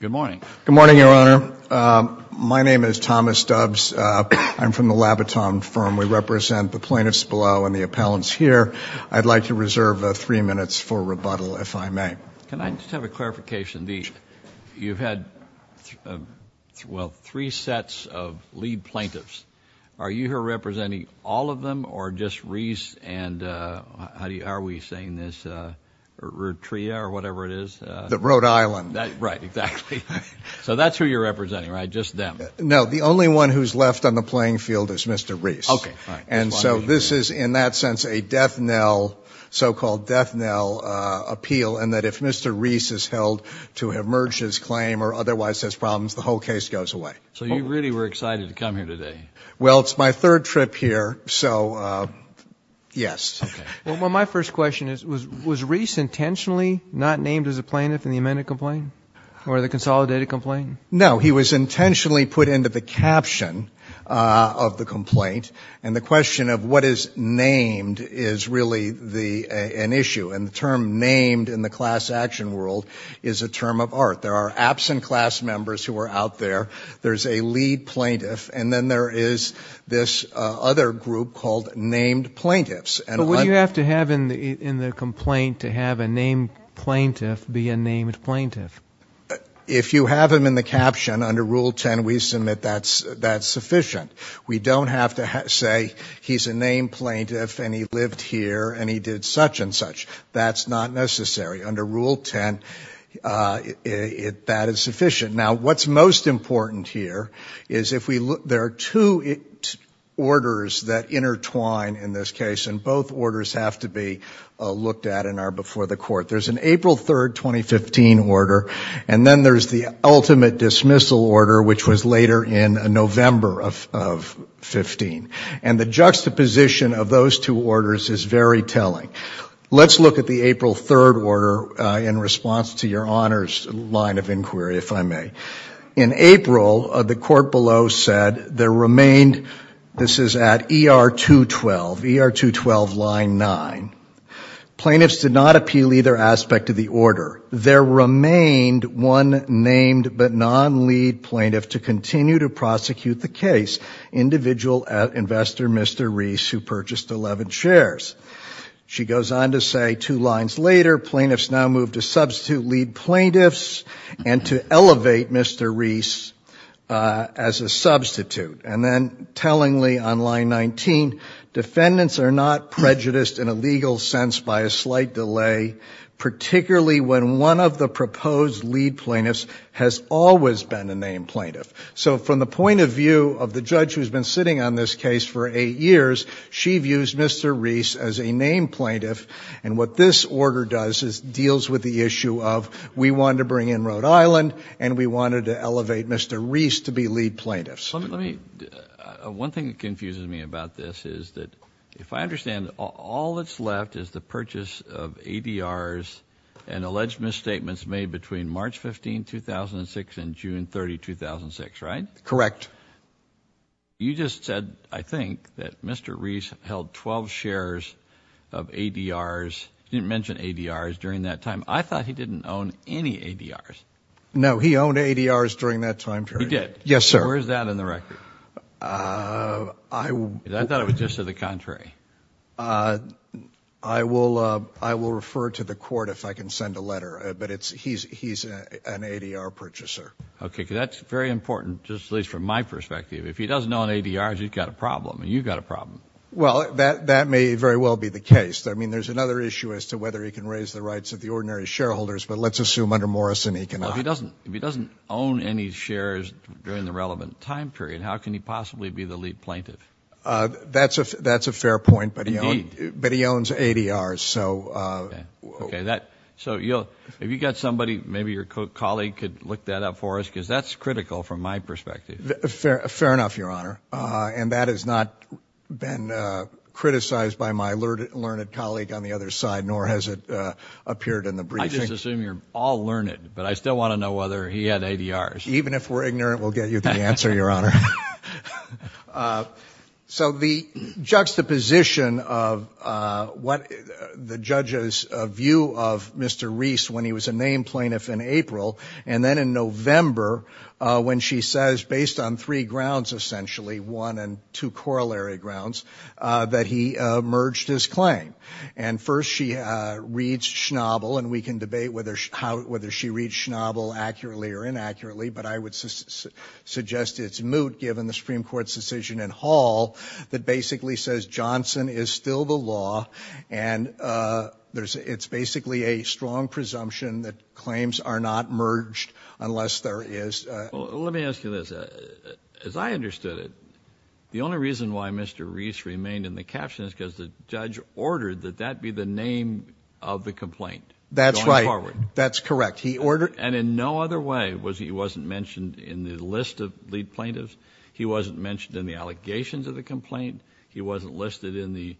Good morning. Good morning, Your Honor. My name is Thomas Dubs. I'm from the Labiton firm. We represent the plaintiffs below and the appellants here. I'd like to reserve three minutes for rebuttal, if I may. Can I just have a clarification? You've had, well, three sets of lead plaintiffs. Are you here representing all of them or just Reese and, how are we saying this, Rutria or whatever it is? The Rhode Island. Right, exactly. So that's who you're representing, right? Just them? No, the only one who's left on the playing field is Mr. Reese. And so this is, in that sense, a death knell, so-called death knell appeal, and that if Mr. Reese is held to have merged his claim or otherwise has problems, the whole case goes away. So you really were excited to come here today? Well, it's my third trip here, so yes. Well, my first question is, was Reese intentionally not named as a plaintiff in the amended complaint or the consolidated complaint? No, he was intentionally put into the caption of the complaint, and the question of what is named is really an issue, and the term named in the class action world is a term of art. There are absent class members who are out there, there's a lead plaintiff, and then there is this other group called named plaintiffs. But what do you have to have in the complaint to have a named plaintiff be a named plaintiff? If you have him in the caption, under Rule 10, we submit that's sufficient. We don't have to say he's a named plaintiff and he lived here and he did such-and-such. That's not necessary. Under Rule 10, that is sufficient. Now, what's most important here is if we look, there are two orders that intertwine in this case, and both orders have to be looked at and are before the court. There's an April 3rd, 2015 order, and then there's the ultimate dismissal order, which was later in November of 15. And the juxtaposition of those two orders is very telling. Let's look at the April 3rd order in response to your Honor's line of inquiry, if I may. In April, the remained, this is at ER 212, ER 212 line 9, plaintiffs did not appeal either aspect of the order. There remained one named but non-lead plaintiff to continue to prosecute the case, individual investor Mr. Reese, who purchased 11 shares. She goes on to say two lines later, plaintiffs now move to substitute lead plaintiffs and to elevate Mr. Reese as a substitute. And then tellingly on line 19, defendants are not prejudiced in a legal sense by a slight delay, particularly when one of the proposed lead plaintiffs has always been a named plaintiff. So from the point of view of the judge who's been sitting on this case for eight years, she views Mr. Reese as a named plaintiff, and what this we wanted to bring in Rhode Island, and we wanted to elevate Mr. Reese to be lead plaintiffs. Let me, one thing that confuses me about this is that if I understand, all that's left is the purchase of ADRs and alleged misstatements made between March 15, 2006 and June 30, 2006, right? Correct. You just said, I think, that Mr. Reese held 12 shares of ADRs, didn't mention ADRs during that time. I thought he didn't own any ADRs. No, he owned ADRs during that time period. He did? Yes, sir. Where's that in the record? I thought it was just to the contrary. I will refer to the court if I can send a letter, but he's an ADR purchaser. Okay, that's very important, at least from my perspective. If he doesn't own ADRs, he's got a problem, and you've got a problem. Well, that may very well be the case. I mean, there's another issue as to whether he can raise the rights of the ordinary shareholders, but let's assume under Morrison he cannot. If he doesn't own any shares during the relevant time period, how can he possibly be the lead plaintiff? That's a fair point, but he owns ADRs. So, you know, if you got somebody, maybe your colleague could look that up for us, because that's critical from my perspective. Fair enough, Your Honor, and that has not been criticized by my learned colleague on the other side, nor has it appeared in the briefing. I just assume you're all learned, but I still want to know whether he had ADRs. Even if we're ignorant, we'll get you the answer, Your Honor. So the juxtaposition of what the judges view of Mr. Reese when he was a named plaintiff in April, and then in November when she says, based on three grounds essentially, one and two corollary grounds, that he merged his She reads Schnabel, and we can debate whether she reads Schnabel accurately or inaccurately, but I would suggest it's moot given the Supreme Court's decision in Hall that basically says Johnson is still the law, and it's basically a strong presumption that claims are not merged unless there is... Let me ask you this. As I understood it, the only reason why Mr. Reese was on the bench was because of the name of the complaint. That's right. That's correct. He ordered... And in no other way was he wasn't mentioned in the list of lead plaintiffs. He wasn't mentioned in the allegations of the complaint. He wasn't listed in the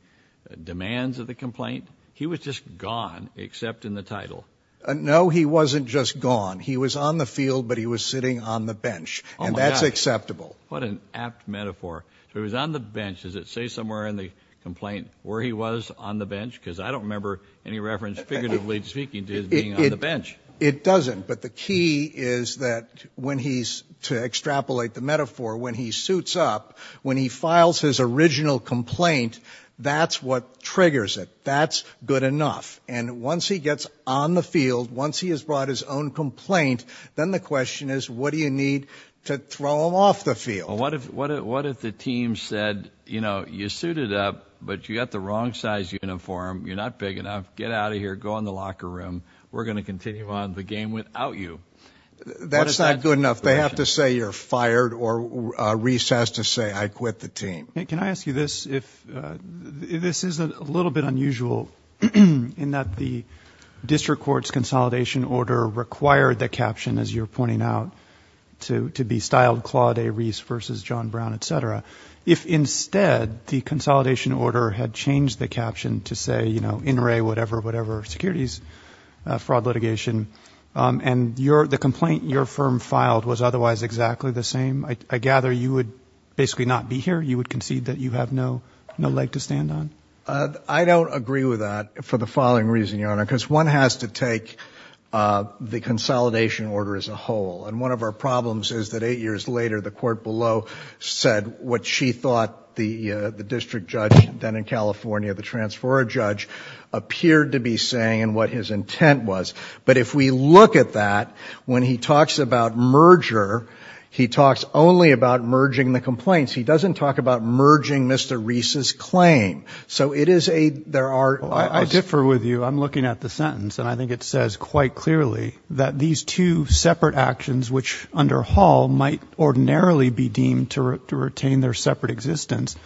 demands of the complaint. He was just gone, except in the title. No, he wasn't just gone. He was on the field, but he was sitting on the bench, and that's acceptable. What an apt metaphor. So he was on the bench. Does it say somewhere in the complaint where he was on the bench? I don't remember any reference figuratively speaking to his being on the bench. It doesn't, but the key is that when he's, to extrapolate the metaphor, when he suits up, when he files his original complaint, that's what triggers it. That's good enough, and once he gets on the field, once he has brought his own complaint, then the question is, what do you need to throw him off the field? What if the team said, you know, you suited up, but you got the wrong size uniform, you're not big enough, get out of here, go in the locker room, we're gonna continue on the game without you. That's not good enough. They have to say you're fired, or Reese has to say, I quit the team. Can I ask you this? This is a little bit unusual in that the District Court's consolidation order required the caption, as you're pointing out, to be styled Claude A. Reese versus John Brown, etc. If instead, the consolidation order had changed the caption to say, you know, In re, whatever, whatever, securities, fraud litigation, and the complaint your firm filed was otherwise exactly the same, I gather you would basically not be here? You would concede that you have no leg to stand on? I don't agree with that for the following reason, Your Honor, because one has to take the consolidation order as a whole, and one of our problems is that eight years later, the court below said what she thought the district judge then in California, the transformer judge, appeared to be saying, and what his intent was. But if we look at that, when he talks about merger, he talks only about merging the complaints. He doesn't talk about merging Mr. Reese's claim. So it is a, there are... I differ with you. I'm looking at the sentence, and I think it says quite clearly that these two separate actions, which under Hall might ordinarily be deemed to retain their separate existence,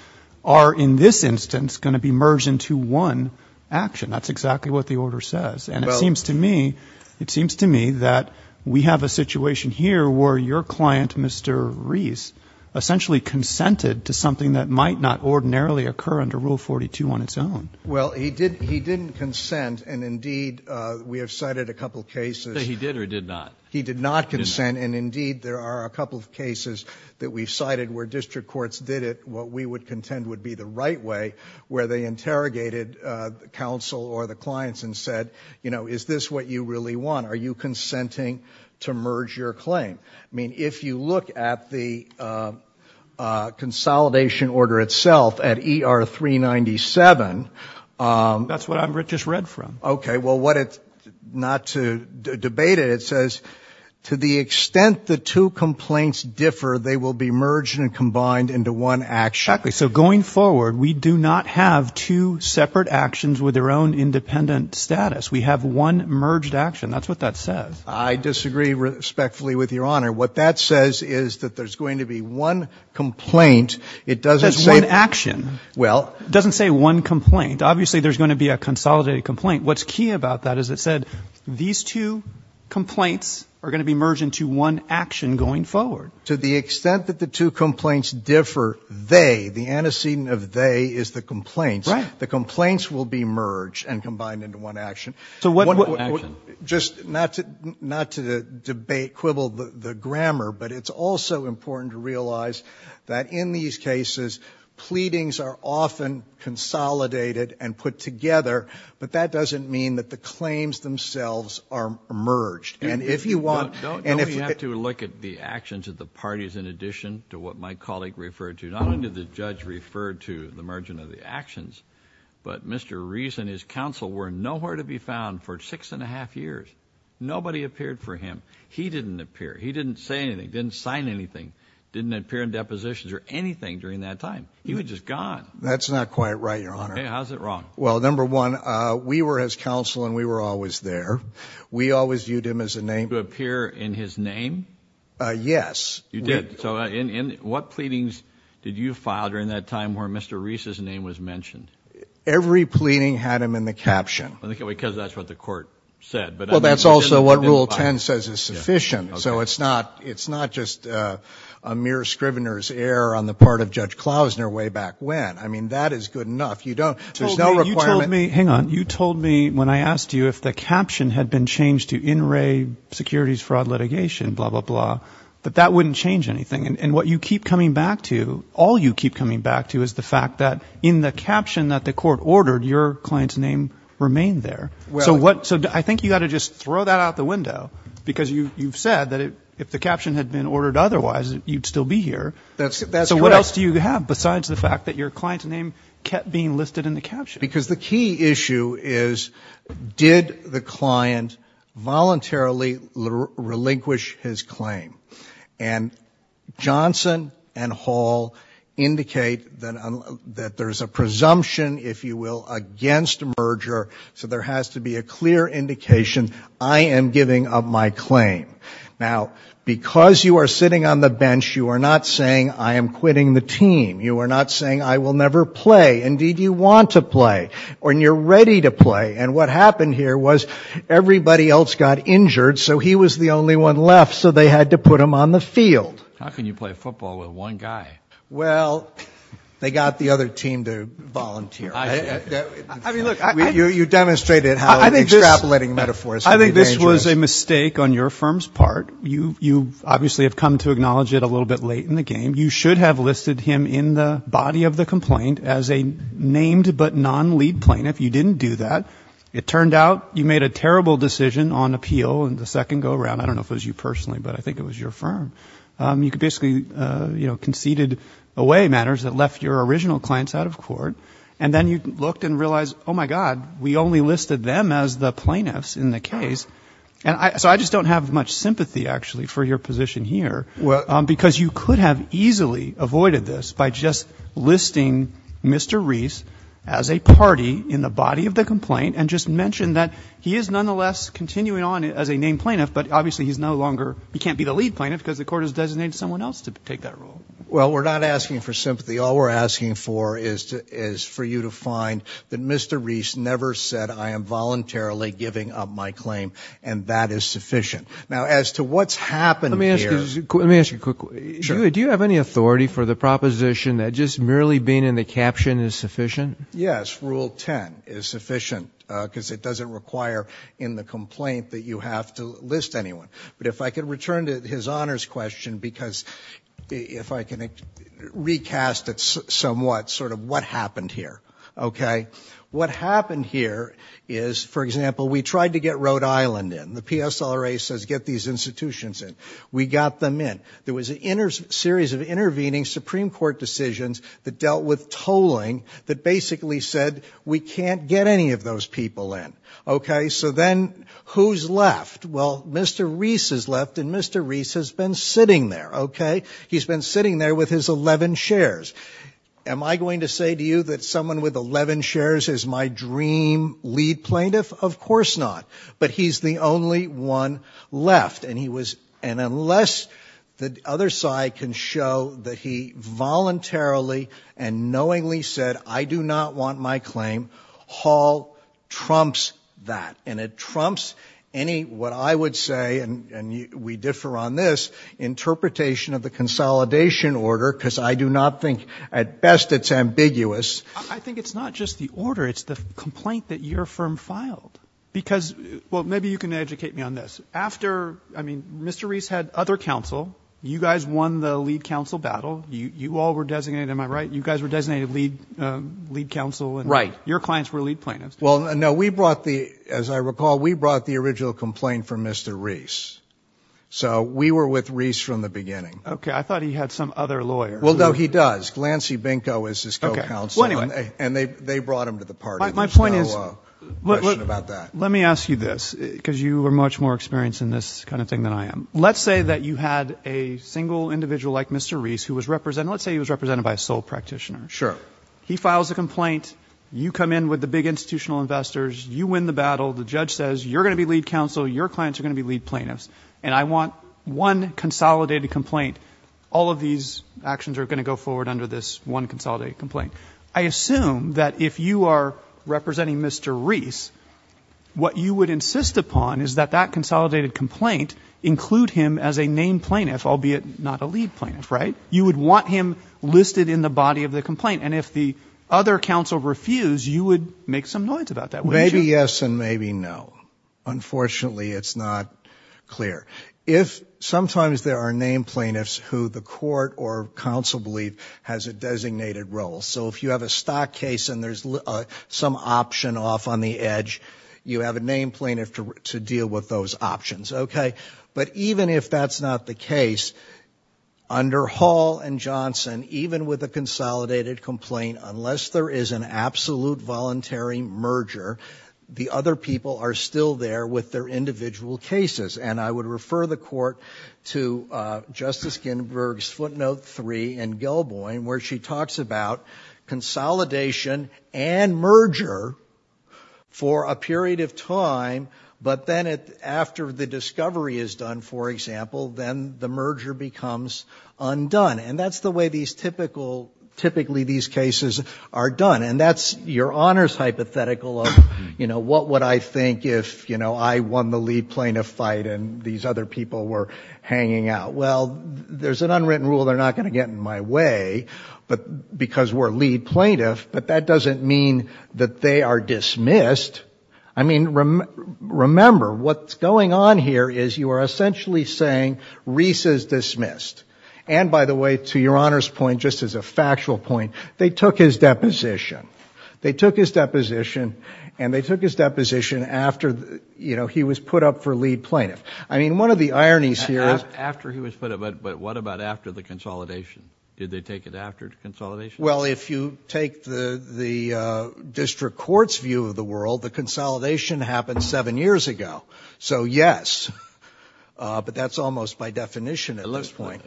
are in this instance going to be merged into one action. That's exactly what the order says. And it seems to me, it seems to me that we have a situation here where your client, Mr. Reese, essentially consented to something that might not ordinarily occur under Rule 42 on its own. Well, he did, he didn't not consent, and indeed there are a couple of cases that we've cited where district courts did it, what we would contend would be the right way, where they interrogated counsel or the clients and said, you know, is this what you really want? Are you consenting to merge your claim? I mean, if you look at the consolidation order itself at ER 397... That's what I just read from. Okay, well to the extent the two complaints differ, they will be merged and combined into one action. Exactly. So going forward, we do not have two separate actions with their own independent status. We have one merged action. That's what that says. I disagree respectfully with your Honor. What that says is that there's going to be one complaint. It doesn't say... That's one action. Well... It doesn't say one complaint. Obviously, there's going to be a consolidated complaint. What's key about that is it said these two complaints are going to be merged into one action going forward. To the extent that the two complaints differ, they, the antecedent of they, is the complaints. Right. The complaints will be merged and combined into one action. So what... Just not to not to debate, quibble the grammar, but it's also important to realize that in these cases, pleadings are often consolidated and put together, but that doesn't mean that the claims themselves are merged. And if you want... Don't you have to look at the actions of the parties in addition to what my colleague referred to? Not only did the judge refer to the merging of the actions, but Mr. Rees and his counsel were nowhere to be found for six and a half years. Nobody appeared for him. He didn't appear. He didn't say anything. Didn't sign anything. Didn't appear in That's not quite right, Your Honor. Okay, how's it wrong? Well, number one, we were as counsel and we were always there. We always viewed him as a name. To appear in his name? Yes. You did. So in what pleadings did you file during that time where Mr. Rees's name was mentioned? Every pleading had him in the caption. Because that's what the court said, but... Well, that's also what Rule 10 says is sufficient. So it's not, it's not just a mere scrivener's error on the part of I mean, that is good enough. You don't, there's no requirement... You told me, hang on, you told me when I asked you if the caption had been changed to in-ray securities fraud litigation, blah blah blah, that that wouldn't change anything. And what you keep coming back to, all you keep coming back to, is the fact that in the caption that the court ordered, your client's name remained there. So what, so I think you got to just throw that out the window, because you you've said that if the caption had been ordered otherwise, you'd still be here. That's, that's correct. So what else do you have besides the client's name kept being listed in the caption? Because the key issue is, did the client voluntarily relinquish his claim? And Johnson and Hall indicate that that there's a presumption, if you will, against merger. So there has to be a clear indication, I am giving up my claim. Now, because you are sitting on the bench, you are not saying, I am quitting the team. You are not saying, I will never play. Indeed, you want to play, when you're ready to play. And what happened here was, everybody else got injured, so he was the only one left, so they had to put him on the field. How can you play football with one guy? Well, they got the other team to volunteer. You demonstrated how extrapolating metaphors can be dangerous. I think this was a mistake on your firm's part. You, you were a little bit late in the game. You should have listed him in the body of the complaint as a named but non-lead plaintiff. You didn't do that. It turned out you made a terrible decision on appeal in the second go-around. I don't know if it was you personally, but I think it was your firm. You could basically, you know, conceded away matters that left your original clients out of court. And then you looked and realized, oh, my God, we only listed them as the plaintiffs in the case. So I just don't have much sympathy, actually, for your position here, because you could have easily avoided this by just listing Mr. Reese as a party in the body of the complaint and just mention that he is nonetheless continuing on as a named plaintiff, but obviously he's no longer, he can't be the lead plaintiff because the court has designated someone else to take that role. Well, we're not asking for sympathy. All we're asking for is for you to find that Mr. Reese never said, I am voluntarily giving up my claim, and that is sufficient. Now, as to what's happened here. Let me ask you quickly. Do you have any authority for the proposition that just merely being in the caption is sufficient? Yes. Rule 10 is sufficient, because it doesn't require in the complaint that you have to list anyone. But if I could return to his honors question, because if I can recast it somewhat, sort of what happened here. Okay. What happened here is, for example, we tried to get Rhode Island in. The PSRA says get these institutions in. We got them in. There was a series of intervening Supreme Court decisions that dealt with tolling that basically said we can't get any of those people in. Okay. So then who's left? Well, Mr. Reese is left, and Mr. Reese has been sitting there. Okay. He's been sitting there with his 11 shares. Am I going to say to you that someone with 11 shares is my dream lead plaintiff? Of course not. But he's the only one left, and unless the other side can show that he voluntarily and knowingly said I do not want my claim, Hall trumps that. And it trumps any, what I would say, and we differ on this, interpretation of the consolidation order, because I do not think at best it's ambiguous. I think it's not just the order. It's the complaint that your firm filed. Because, well, maybe you can educate me on this. After, I mean, Mr. Reese had other counsel. You guys won the lead counsel battle. You all were designated, am I right? You guys were designated lead counsel. Right. Your clients were lead plaintiffs. Well, no, we brought the, as I recall, we brought the original complaint from Mr. Reese. So we were with Reese from the beginning. Okay. I thought he had some other lawyer. Well, no, he does. Glancy Binko is his co-counsel. Okay. Well, anyway. And they brought him to the party. My point is, let me ask you this, because you are much more experienced in this kind of thing than I am. Let's say that you had a single individual like Mr. Reese who was represented, let's say he was represented by a sole practitioner. Sure. He files a complaint. You come in with the big institutional investors. You win the battle. The judge says, you're going to be lead counsel. Your clients are going to be lead plaintiffs. And I want one consolidated complaint. All of these actions are going to go forward under this one consolidated complaint. I assume that if you are representing Mr. Reese, what you would insist upon is that that consolidated complaint include him as a named plaintiff, albeit not a lead plaintiff, right? You would want him listed in the body of the complaint. And if the other counsel refused, you would make some noise about that, wouldn't you? Well, yes and maybe no. Unfortunately, it's not clear. Sometimes there are named plaintiffs who the court or counsel believe has a designated role. So if you have a stock case and there's some option off on the edge, you have a named plaintiff to deal with those options. Okay. But even if that's not the case, under Hall and Johnson, even with a consolidated complaint, unless there is an absolute voluntary merger, the other people are still there with their individual cases. And I would refer the court to Justice Ginsburg's footnote three in Gilboyne, where she talks about consolidation and merger for a period of time, but then after the discovery is done, for example, then the merger becomes undone. And that's the way these typical, typically these cases are done. And that's your honors hypothetical of, you know, what would I think if, you know, I won the lead plaintiff fight and these other people were hanging out? Well, there's an unwritten rule they're not going to get in my way, but because we're lead plaintiff, but that doesn't mean that they are dismissed. I mean, remember, what's going on here is you are essentially saying Reese is dismissed. And by the way, to your honors point, just as a factual point, they took his deposition. They took his deposition and they took his deposition after, you know, he was put up for lead plaintiff. I mean, one of the ironies here is after he was put up. But what about after the consolidation? Did they take it after the consolidation? Well, if you take the district court's view of the world, the consolidation happened seven years ago. So, yes, but that's almost by definition at this point.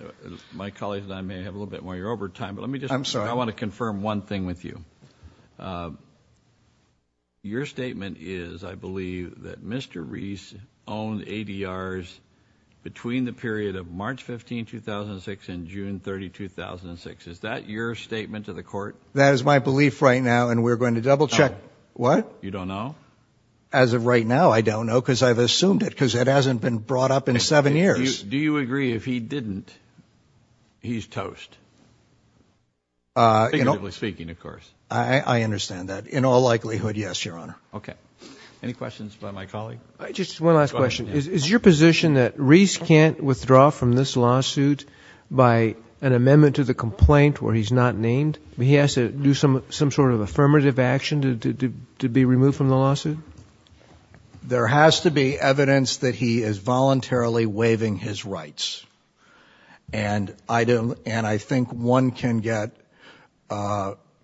My colleagues and I may have a little bit more of your overtime, but let me just, I want to confirm one thing with you. Your statement is, I believe, that Mr. Reese owned ADRs between the period of March 15, 2006 and June 30, 2006. Is that your statement to the court? That is my belief right now. And we're going to double check. What? You don't know? As of right now, I don't know because I've assumed it because it hasn't been brought up in seven years. Do you agree if he didn't, he's toast? Figuratively speaking, of course. I understand that. In all likelihood, yes, Your Honor. Okay. Any questions by my colleague? Just one last question. Is your position that Reese can't withdraw from this lawsuit by an amendment to the complaint where he's not named? He has to do some sort of affirmative action to be removed from the lawsuit? There has to be evidence that he is voluntarily waiving his rights. And I think one can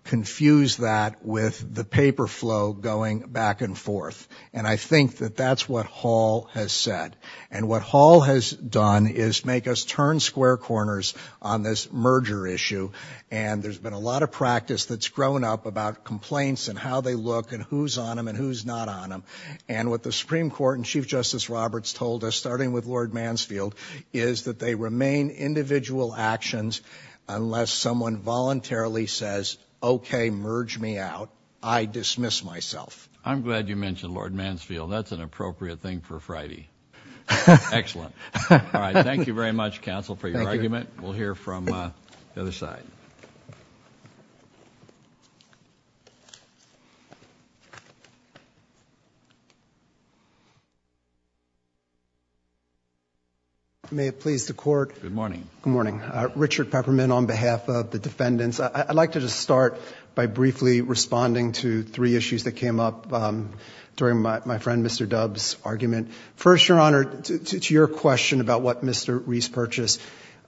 confuse that with the paper flow going back and forth. And I think that that's what Hall has said. And what Hall has done is make us turn square corners on this merger issue. And there's been a lot of practice that's grown up about complaints and how they look and who's on them and who's not on them. And what the Supreme Court and Chief Justice Roberts told us, starting with Lord Mansfield, is that they remain individual actions unless someone voluntarily says, okay, merge me out, I dismiss myself. I'm glad you mentioned Lord Mansfield. That's an appropriate thing for Friday. Excellent. All right. Thank you very much, counsel, for your argument. We'll hear from the other side. May it please the Court. Good morning. Good morning. Richard Peppermint on behalf of the defendants. I'd like to just start by briefly responding to three issues that came up during my friend Mr. Dubbs' argument. First, Your Honor, to your question about what Mr. Reese purchased,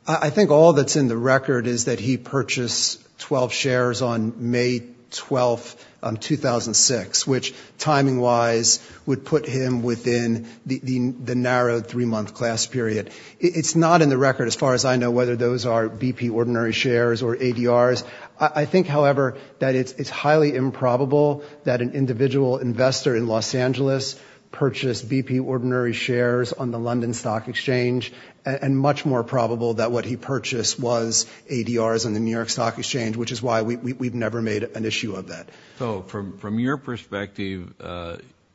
I think all that's in the record is that he purchased 12 shares on May 12, 2006, which timing-wise would put him within the narrow three-month class period. It's not in the record, as far as I know, whether those are BP ordinary shares or ADRs. I think, however, that it's highly improbable that an individual investor in Los Angeles purchased BP ordinary shares on the London Stock Exchange, and much more probable that what he purchased was ADRs on the New York Stock Exchange, which is why we've never made an issue of that. So, from your perspective,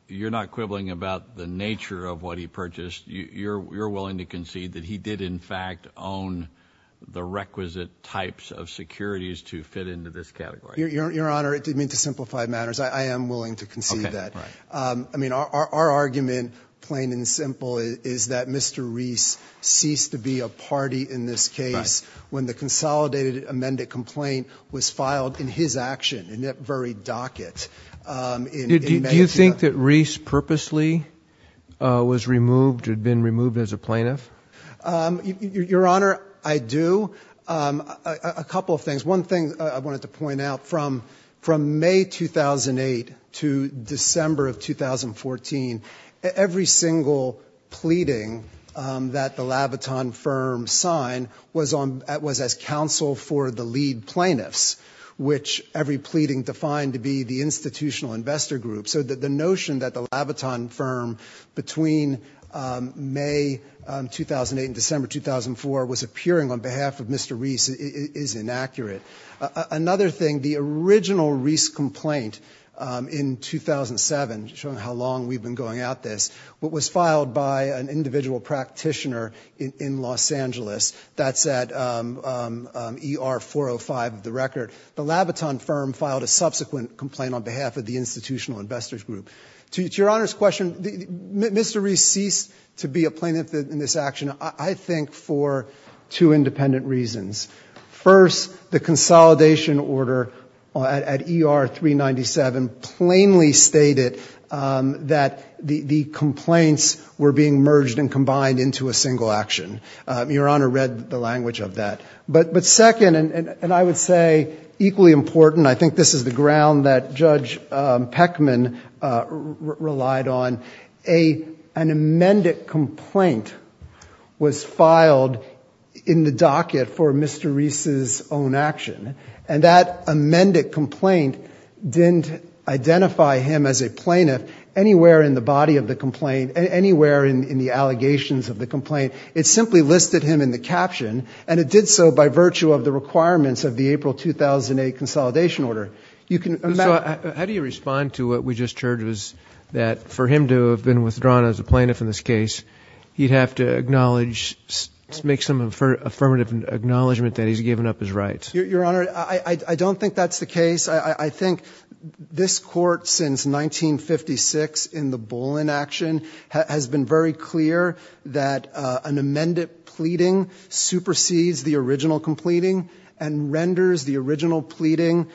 you're not quibbling about the nature of what he purchased. You're willing to concede that he did, in fact, own the requisite types of securities to fit into this category? Your Honor, to simplify matters, I am willing to concede that. I mean, our argument, plain and simple, is that Mr. Reese ceased to be a party in this case when the consolidated amended complaint was filed in his action, in that very docket. Do you think that Reese purposely was removed, had been removed as a plaintiff? Your Honor, I do. A couple of things. One thing I wanted to point out, from May 2008 to December of 2014, every single pleading that the Labaton firm signed was as counsel for the lead plaintiffs, which every pleading defined to be the institutional investor group. So the notion that the Labaton firm, between May 2008 and December 2004, was appearing on behalf of Mr. Reese is inaccurate. Another thing, the original Reese complaint in 2007, showing how long we've been going at this, was filed by an individual practitioner in Los Angeles. That's at ER 405 of the record. The Labaton firm filed a subsequent complaint on behalf of the institutional investors group. To Your Honor's question, Mr. Reese ceased to be a plaintiff in this action, I think, for two independent reasons. First, the consolidation order at ER 397 plainly stated that the complaints were being merged and combined into a single action. Your Honor read the language of that. But second, and I would say equally important, I think this is the ground that Judge Peckman relied on, an amended complaint was filed in the docket for Mr. Reese's own action. And that amended complaint didn't identify him as a plaintiff anywhere in the body of the complaint, anywhere in the allegations of the complaint. It simply listed him in the caption, and it did so by virtue of the requirements of the April 2008 consolidation order. So how do you respond to what we just heard, that for him to have been withdrawn as a plaintiff in this case, he'd have to acknowledge, make some affirmative acknowledgement that he's given up his rights? Your Honor, I don't think that's the case. I think this Court, since 1956 in the Bullen action, has been very clear that an amended pleading supersedes the original completing and renders the original pleading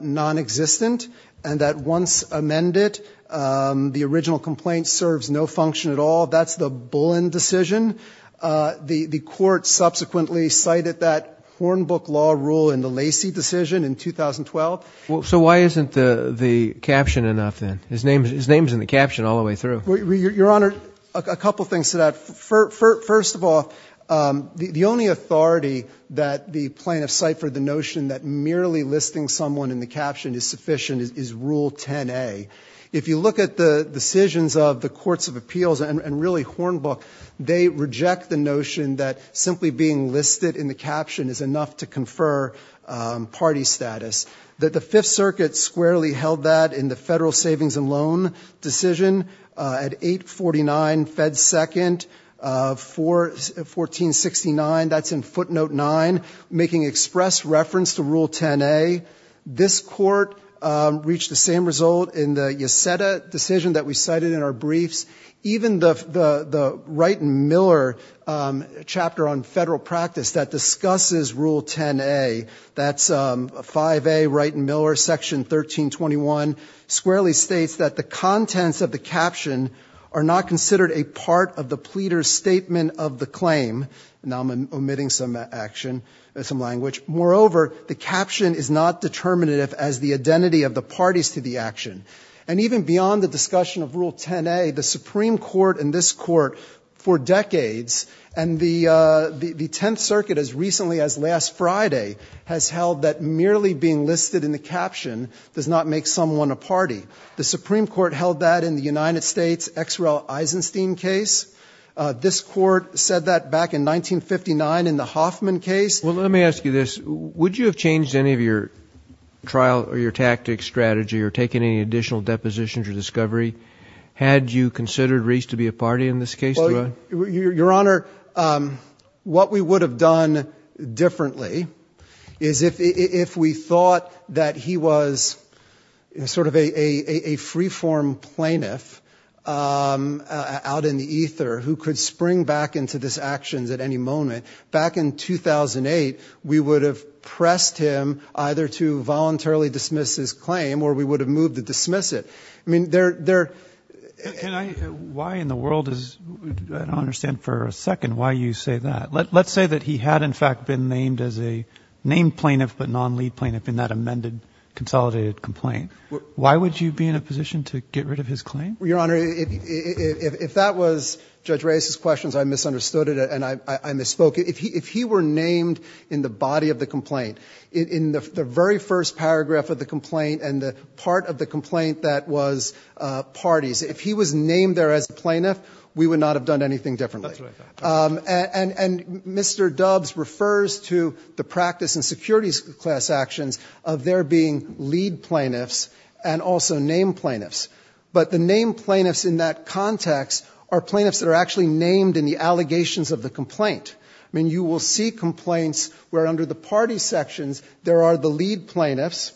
nonexistent. And that once amended, the original complaint serves no function at all. That's the Bullen decision. The Court subsequently cited that Hornbook law rule in the Lacey decision in 2012. So why isn't the caption enough then? His name's in the caption all the way through. Your Honor, a couple things to that. First of all, the only authority that the plaintiffs cite for the notion that merely listing someone in the caption is sufficient is Rule 10a. If you look at the decisions of the Courts of Appeals and really Hornbook, they reject the notion that simply being listed in the caption is enough to confer party status. The Fifth Circuit squarely held that in the Federal Savings and Loan decision at 849 Fed 2nd, 1469, that's in footnote 9, making express reference to Rule 10a. This Court reached the same result in the Yeseda decision that we cited in our briefs. Even the Wright and Miller chapter on federal practice that discusses Rule 10a, that's 5a Wright and Miller, Section 1321, squarely states that the contents of the caption are not considered a part of the pleader's statement of the claim. Now I'm omitting some action, some language. Moreover, the caption is not determinative as the identity of the parties to the action. And even beyond the discussion of Rule 10a, the Supreme Court and this Court for decades, and the Tenth Circuit as recently as last Friday, has held that merely being listed in the caption does not make someone a party. The Supreme Court held that in the United States' X. Rel. Eisenstein case. This Court said that back in 1959 in the Hoffman case. Well, let me ask you this. Would you have changed any of your trial or your tactics, strategy, or taken any additional depositions or discovery had you considered Reese to be a party in this case? Your Honor, what we would have done differently is if we thought that he was sort of a free-form plaintiff out in the ether who could spring back into these actions at any moment, back in 2008, we would have pressed him either to voluntarily dismiss his claim or we would have moved to dismiss it. I mean, there are – Why in the world is – I don't understand for a second why you say that. Let's say that he had in fact been named as a named plaintiff but non-lead plaintiff in that amended, consolidated complaint. Why would you be in a position to get rid of his claim? Your Honor, if that was Judge Reese's questions, I misunderstood it and I misspoke. If he were named in the body of the complaint, in the very first paragraph of the complaint and the part of the complaint that was parties, if he was named there as a plaintiff, we would not have done anything differently. And Mr. Dubs refers to the practice in securities class actions of there being lead plaintiffs and also named plaintiffs. But the named plaintiffs in that context are plaintiffs that are actually named in the allegations of the complaint. I mean, you will see complaints where under the party sections there are the lead plaintiffs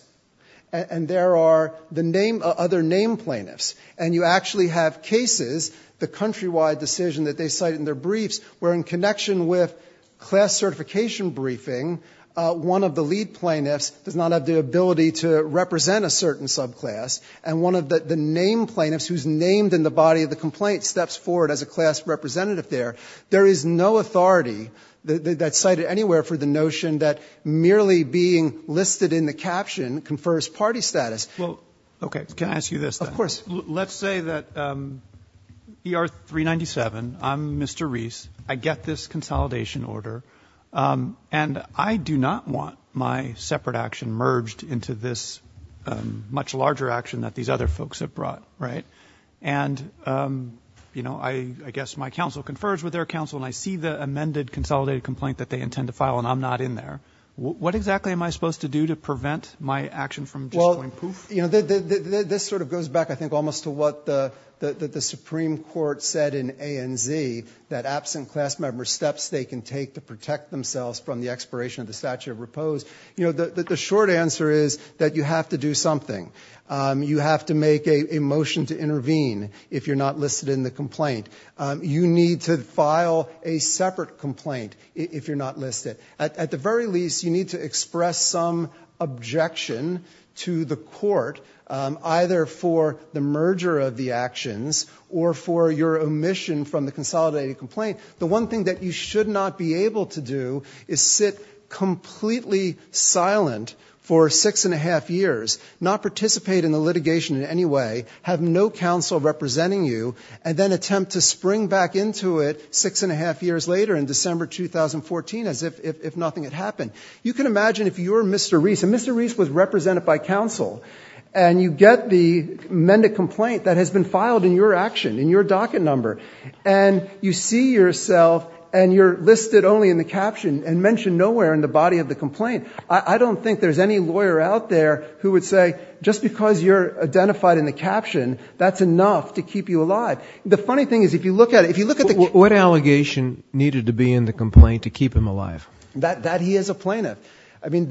and there are the other named plaintiffs. And you actually have cases, the countrywide decision that they cite in their briefs, where in connection with class certification briefing, one of the lead plaintiffs does not have the ability to represent a certain subclass and one of the named plaintiffs who's named in the body of the complaint steps forward as a class representative there. There is no authority that's cited anywhere for the notion that merely being listed in the caption confers party status. Well, okay. Can I ask you this then? Of course. Let's say that ER 397, I'm Mr. Reese, I get this consolidation order, and I do not want my separate action merged into this much larger action that these other folks have brought, right? And, you know, I guess my counsel confers with their counsel and I see the amended consolidated complaint that they intend to file and I'm not in there. What exactly am I supposed to do to prevent my action from just going poof? This sort of goes back, I think, almost to what the Supreme Court said in ANZ, that absent class member steps they can take to protect themselves from the expiration of the statute of repose. You know, the short answer is that you have to do something. You have to make a motion to intervene if you're not listed in the complaint. You need to file a separate complaint if you're not listed. At the very least, you need to express some objection to the court either for the merger of the actions or for your omission from the consolidated complaint. The one thing that you should not be able to do is sit completely silent for six and a half years, not participate in the litigation in any way, have no counsel representing you, and then attempt to spring back into it six and a half years later in December 2014 as if nothing had happened. You can imagine if you're Mr. Reese, and Mr. Reese was represented by counsel, and you get the amended complaint that has been filed in your action, in your docket number, and you see yourself and you're listed only in the caption and mentioned nowhere in the body of the complaint. I don't think there's any lawyer out there who would say just because you're identified in the caption, that's enough to keep you alive. The funny thing is if you look at it, if you look at the caption. What allegation needed to be in the complaint to keep him alive? That he is a plaintiff. I mean,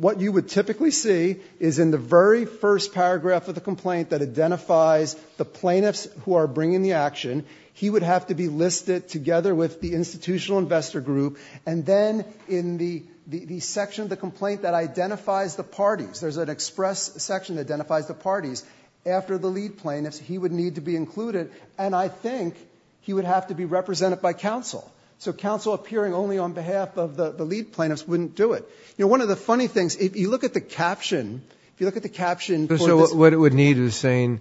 what you would typically see is in the very first paragraph of the complaint that identifies the plaintiffs who are bringing the action, he would have to be listed together with the institutional investor group, and then in the section of the complaint that identifies the parties, there's an express section that identifies the parties, after the lead plaintiffs, he would need to be included, and I think he would have to be represented by counsel. So counsel appearing only on behalf of the lead plaintiffs wouldn't do it. You know, one of the funny things, if you look at the caption, if you look at the caption. So what it would need is saying,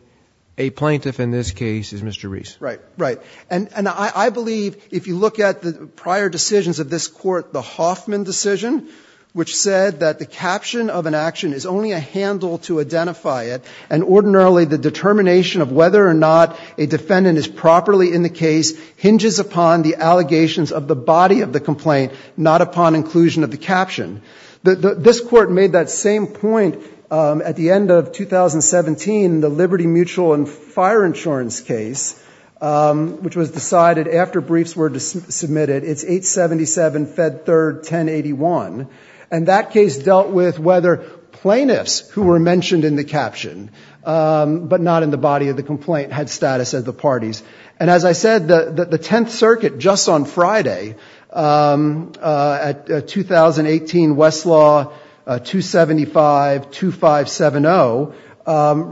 a plaintiff in this case is Mr. Reese. Right, right. And I believe if you look at the prior decisions of this court, the Hoffman decision, which said that the caption of an action is only a handle to identify it, and ordinarily the determination of whether or not a defendant is properly in the case hinges upon the allegations of the body of the complaint, not upon inclusion of the caption. This court made that same point at the end of 2017, the Liberty Mutual and Fire Insurance case, which was decided after briefs were submitted. It's 877 Fed 3rd 1081. And that case dealt with whether plaintiffs who were mentioned in the caption, but not in the body of the complaint, had status as the parties. And as I said, the Tenth Circuit, just on Friday, at 2018 Westlaw 2752570,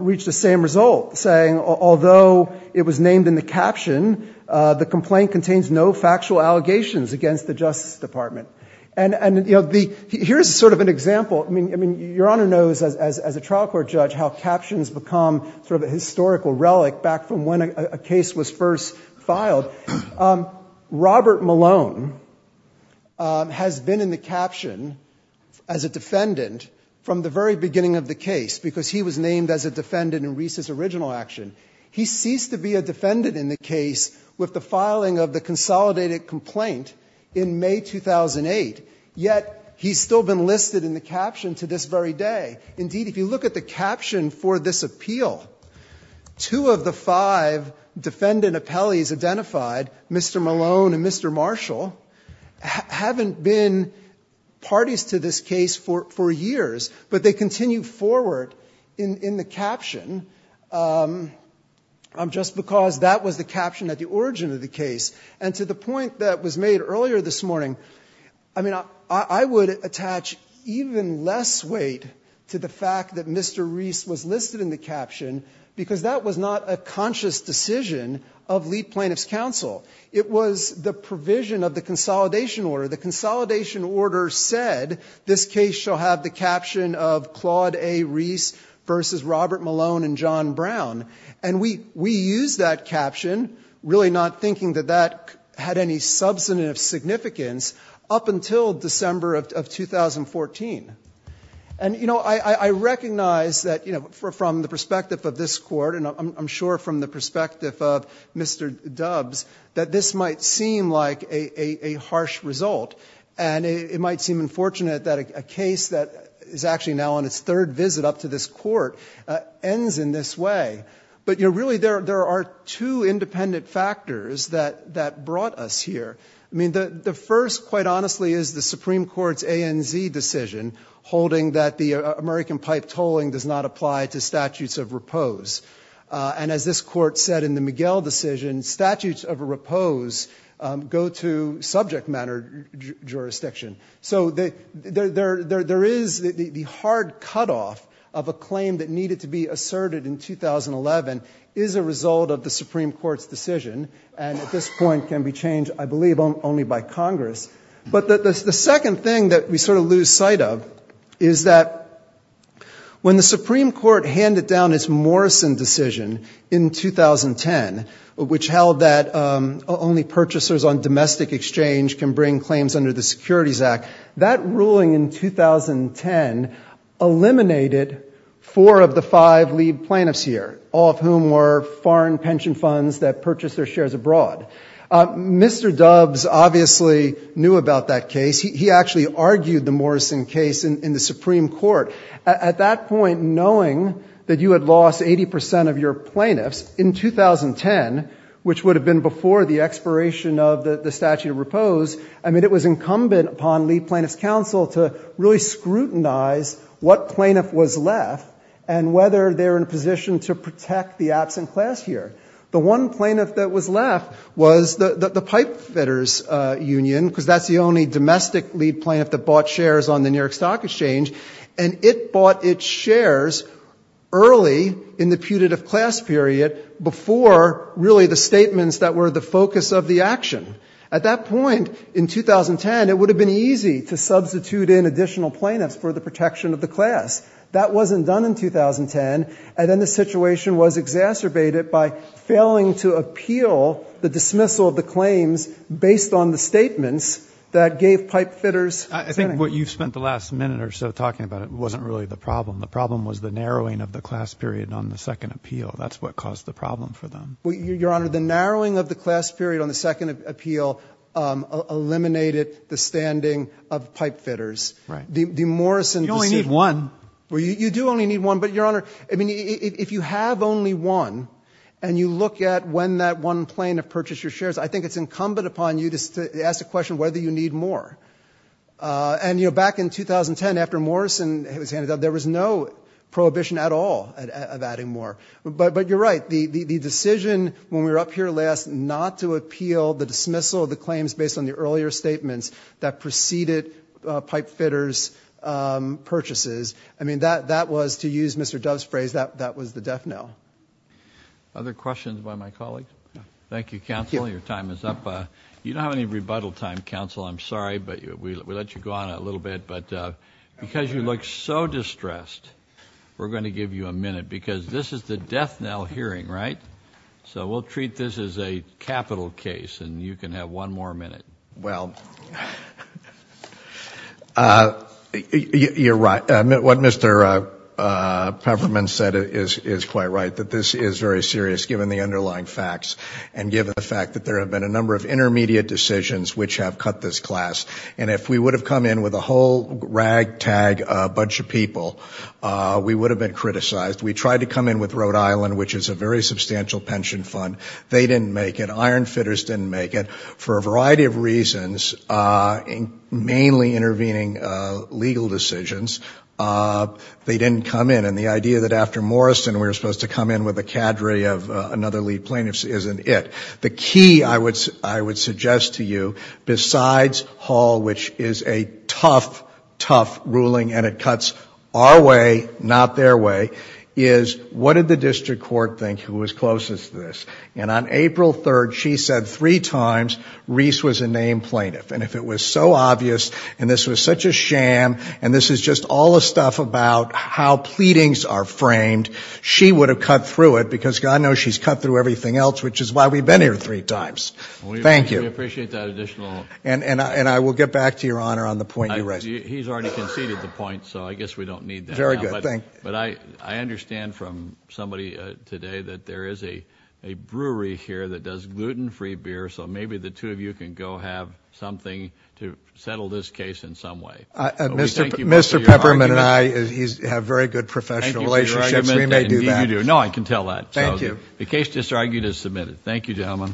reached the same result, saying although it was named in the caption, the complaint contains no factual allegations against the Justice Department. And, you know, here's sort of an example. I mean, Your Honor knows as a trial court judge how captions become sort of a historical relic back from when a case was first filed. Robert Malone has been in the caption as a defendant from the very beginning of the case because he was named as a defendant in Reese's original action. He ceased to be a defendant in the case with the filing of the consolidated complaint in May 2008, yet he's still been listed in the caption to this very day. Indeed, if you look at the caption for this appeal, two of the five defendant appellees identified, Mr. Malone and Mr. Marshall, haven't been parties to this case for years, but they continue forward in the caption just because that was the caption at the origin of the case. And to the point that was made earlier this morning, I mean, I would attach even less weight to the fact that Mr. Reese was listed in the caption because that was not a conscious decision of lead plaintiff's counsel. It was the provision of the consolidation order. The consolidation order said this case shall have the caption of Claude A. Reese versus Robert Malone and John Brown. And we used that caption really not thinking that that had any substantive significance up until December of 2014. And, you know, I recognize that, you know, from the perspective of this court and I'm sure from the perspective of Mr. Dubs, that this might seem like a harsh result and it might seem unfortunate that a case that is actually now on its third visit up to this court ends in this way. But, you know, really there are two independent factors that brought us here. I mean, the first, quite honestly, is the Supreme Court's ANZ decision holding that the American pipe tolling does not apply to statutes of repose. And as this court said in the Miguel decision, statutes of repose go to subject matter jurisdiction. So there is the hard cutoff of a claim that needed to be asserted in 2011 is a result of the Supreme Court's decision. And at this point can be changed, I believe, only by Congress. But the second thing that we sort of lose sight of is that when the Supreme Court handed down its Morrison decision in 2010, which held that only purchasers on domestic exchange can bring claims under the Securities Act, that ruling in 2010 eliminated four of the five lead plaintiffs here, all of whom were foreign pension funds that purchased their shares abroad. Mr. Dubs obviously knew about that case. He actually argued the Morrison case in the Supreme Court. At that point, knowing that you had lost 80 percent of your plaintiffs in 2010, which would have been before the expiration of the statute of repose, I mean, it was incumbent upon lead plaintiffs' counsel to really scrutinize what plaintiff was left and whether they're in a position to protect the absent class here. The one plaintiff that was left was the pipefitters' union, because that's the only domestic lead plaintiff that bought shares on the New York Stock Exchange. And it bought its shares early in the putative class period, before really the statements that were the focus of the action. At that point in 2010, it would have been easy to substitute in additional plaintiffs for the protection of the class. That wasn't done in 2010. And then the situation was exacerbated by failing to appeal the dismissal of the claims based on the statements that gave pipefitters' claim. I think what you spent the last minute or so talking about wasn't really the problem. The problem was the narrowing of the class period on the second appeal. That's what caused the problem for them. Your Honor, the narrowing of the class period on the second appeal eliminated the standing of pipefitters. Right. You only need one. You do only need one. But, Your Honor, if you have only one and you look at when that one plaintiff purchased your shares, I think it's incumbent upon you to ask the question whether you need more. And, you know, back in 2010, after Morrison was handed out, there was no prohibition at all of adding more. But you're right. The decision when we were up here last not to appeal the dismissal of the claims based on the earlier statements that preceded pipefitters' purchases, I mean, that was, to use Mr. Dove's phrase, that was the deaf no. Other questions by my colleagues? Thank you, Counsel. Your time is up. You don't have any rebuttal time, Counsel. I'm sorry, but we let you go on a little bit. But because you look so distressed, we're going to give you a minute because this is the death knell hearing, right? So we'll treat this as a capital case, and you can have one more minute. Well, you're right. What Mr. Peverman said is quite right, that this is very serious, given the underlying facts and given the fact that there have been a number of intermediate decisions which have cut this class. And if we would have come in with a whole ragtag bunch of people, we would have been criticized. We tried to come in with Rhode Island, which is a very substantial pension fund. They didn't make it. Ironfitters didn't make it. For a variety of reasons, mainly intervening legal decisions, they didn't come in. And the idea that after Morrison we were supposed to come in with a cadre of another lead plaintiff isn't it. The key, I would suggest to you, besides Hall, which is a tough, tough ruling, and it cuts our way, not their way, is what did the district court think who was closest to this? And on April 3rd, she said three times Reese was a named plaintiff. And if it was so obvious, and this was such a sham, and this is just all the stuff about how pleadings are framed, she would have cut through it, because God knows she's cut through everything else, which is why we've been here three times. Thank you. We appreciate that additional. And I will get back to Your Honor on the point you raised. He's already conceded the point, so I guess we don't need that now. Very good. But I understand from somebody today that there is a brewery here that does gluten-free beer, so maybe the two of you can go have something to settle this case in some way. Mr. Peppermint and I have very good professional relationships. We may do that. No, I can tell that. Thank you. The case disargued is submitted. Thank you, gentlemen.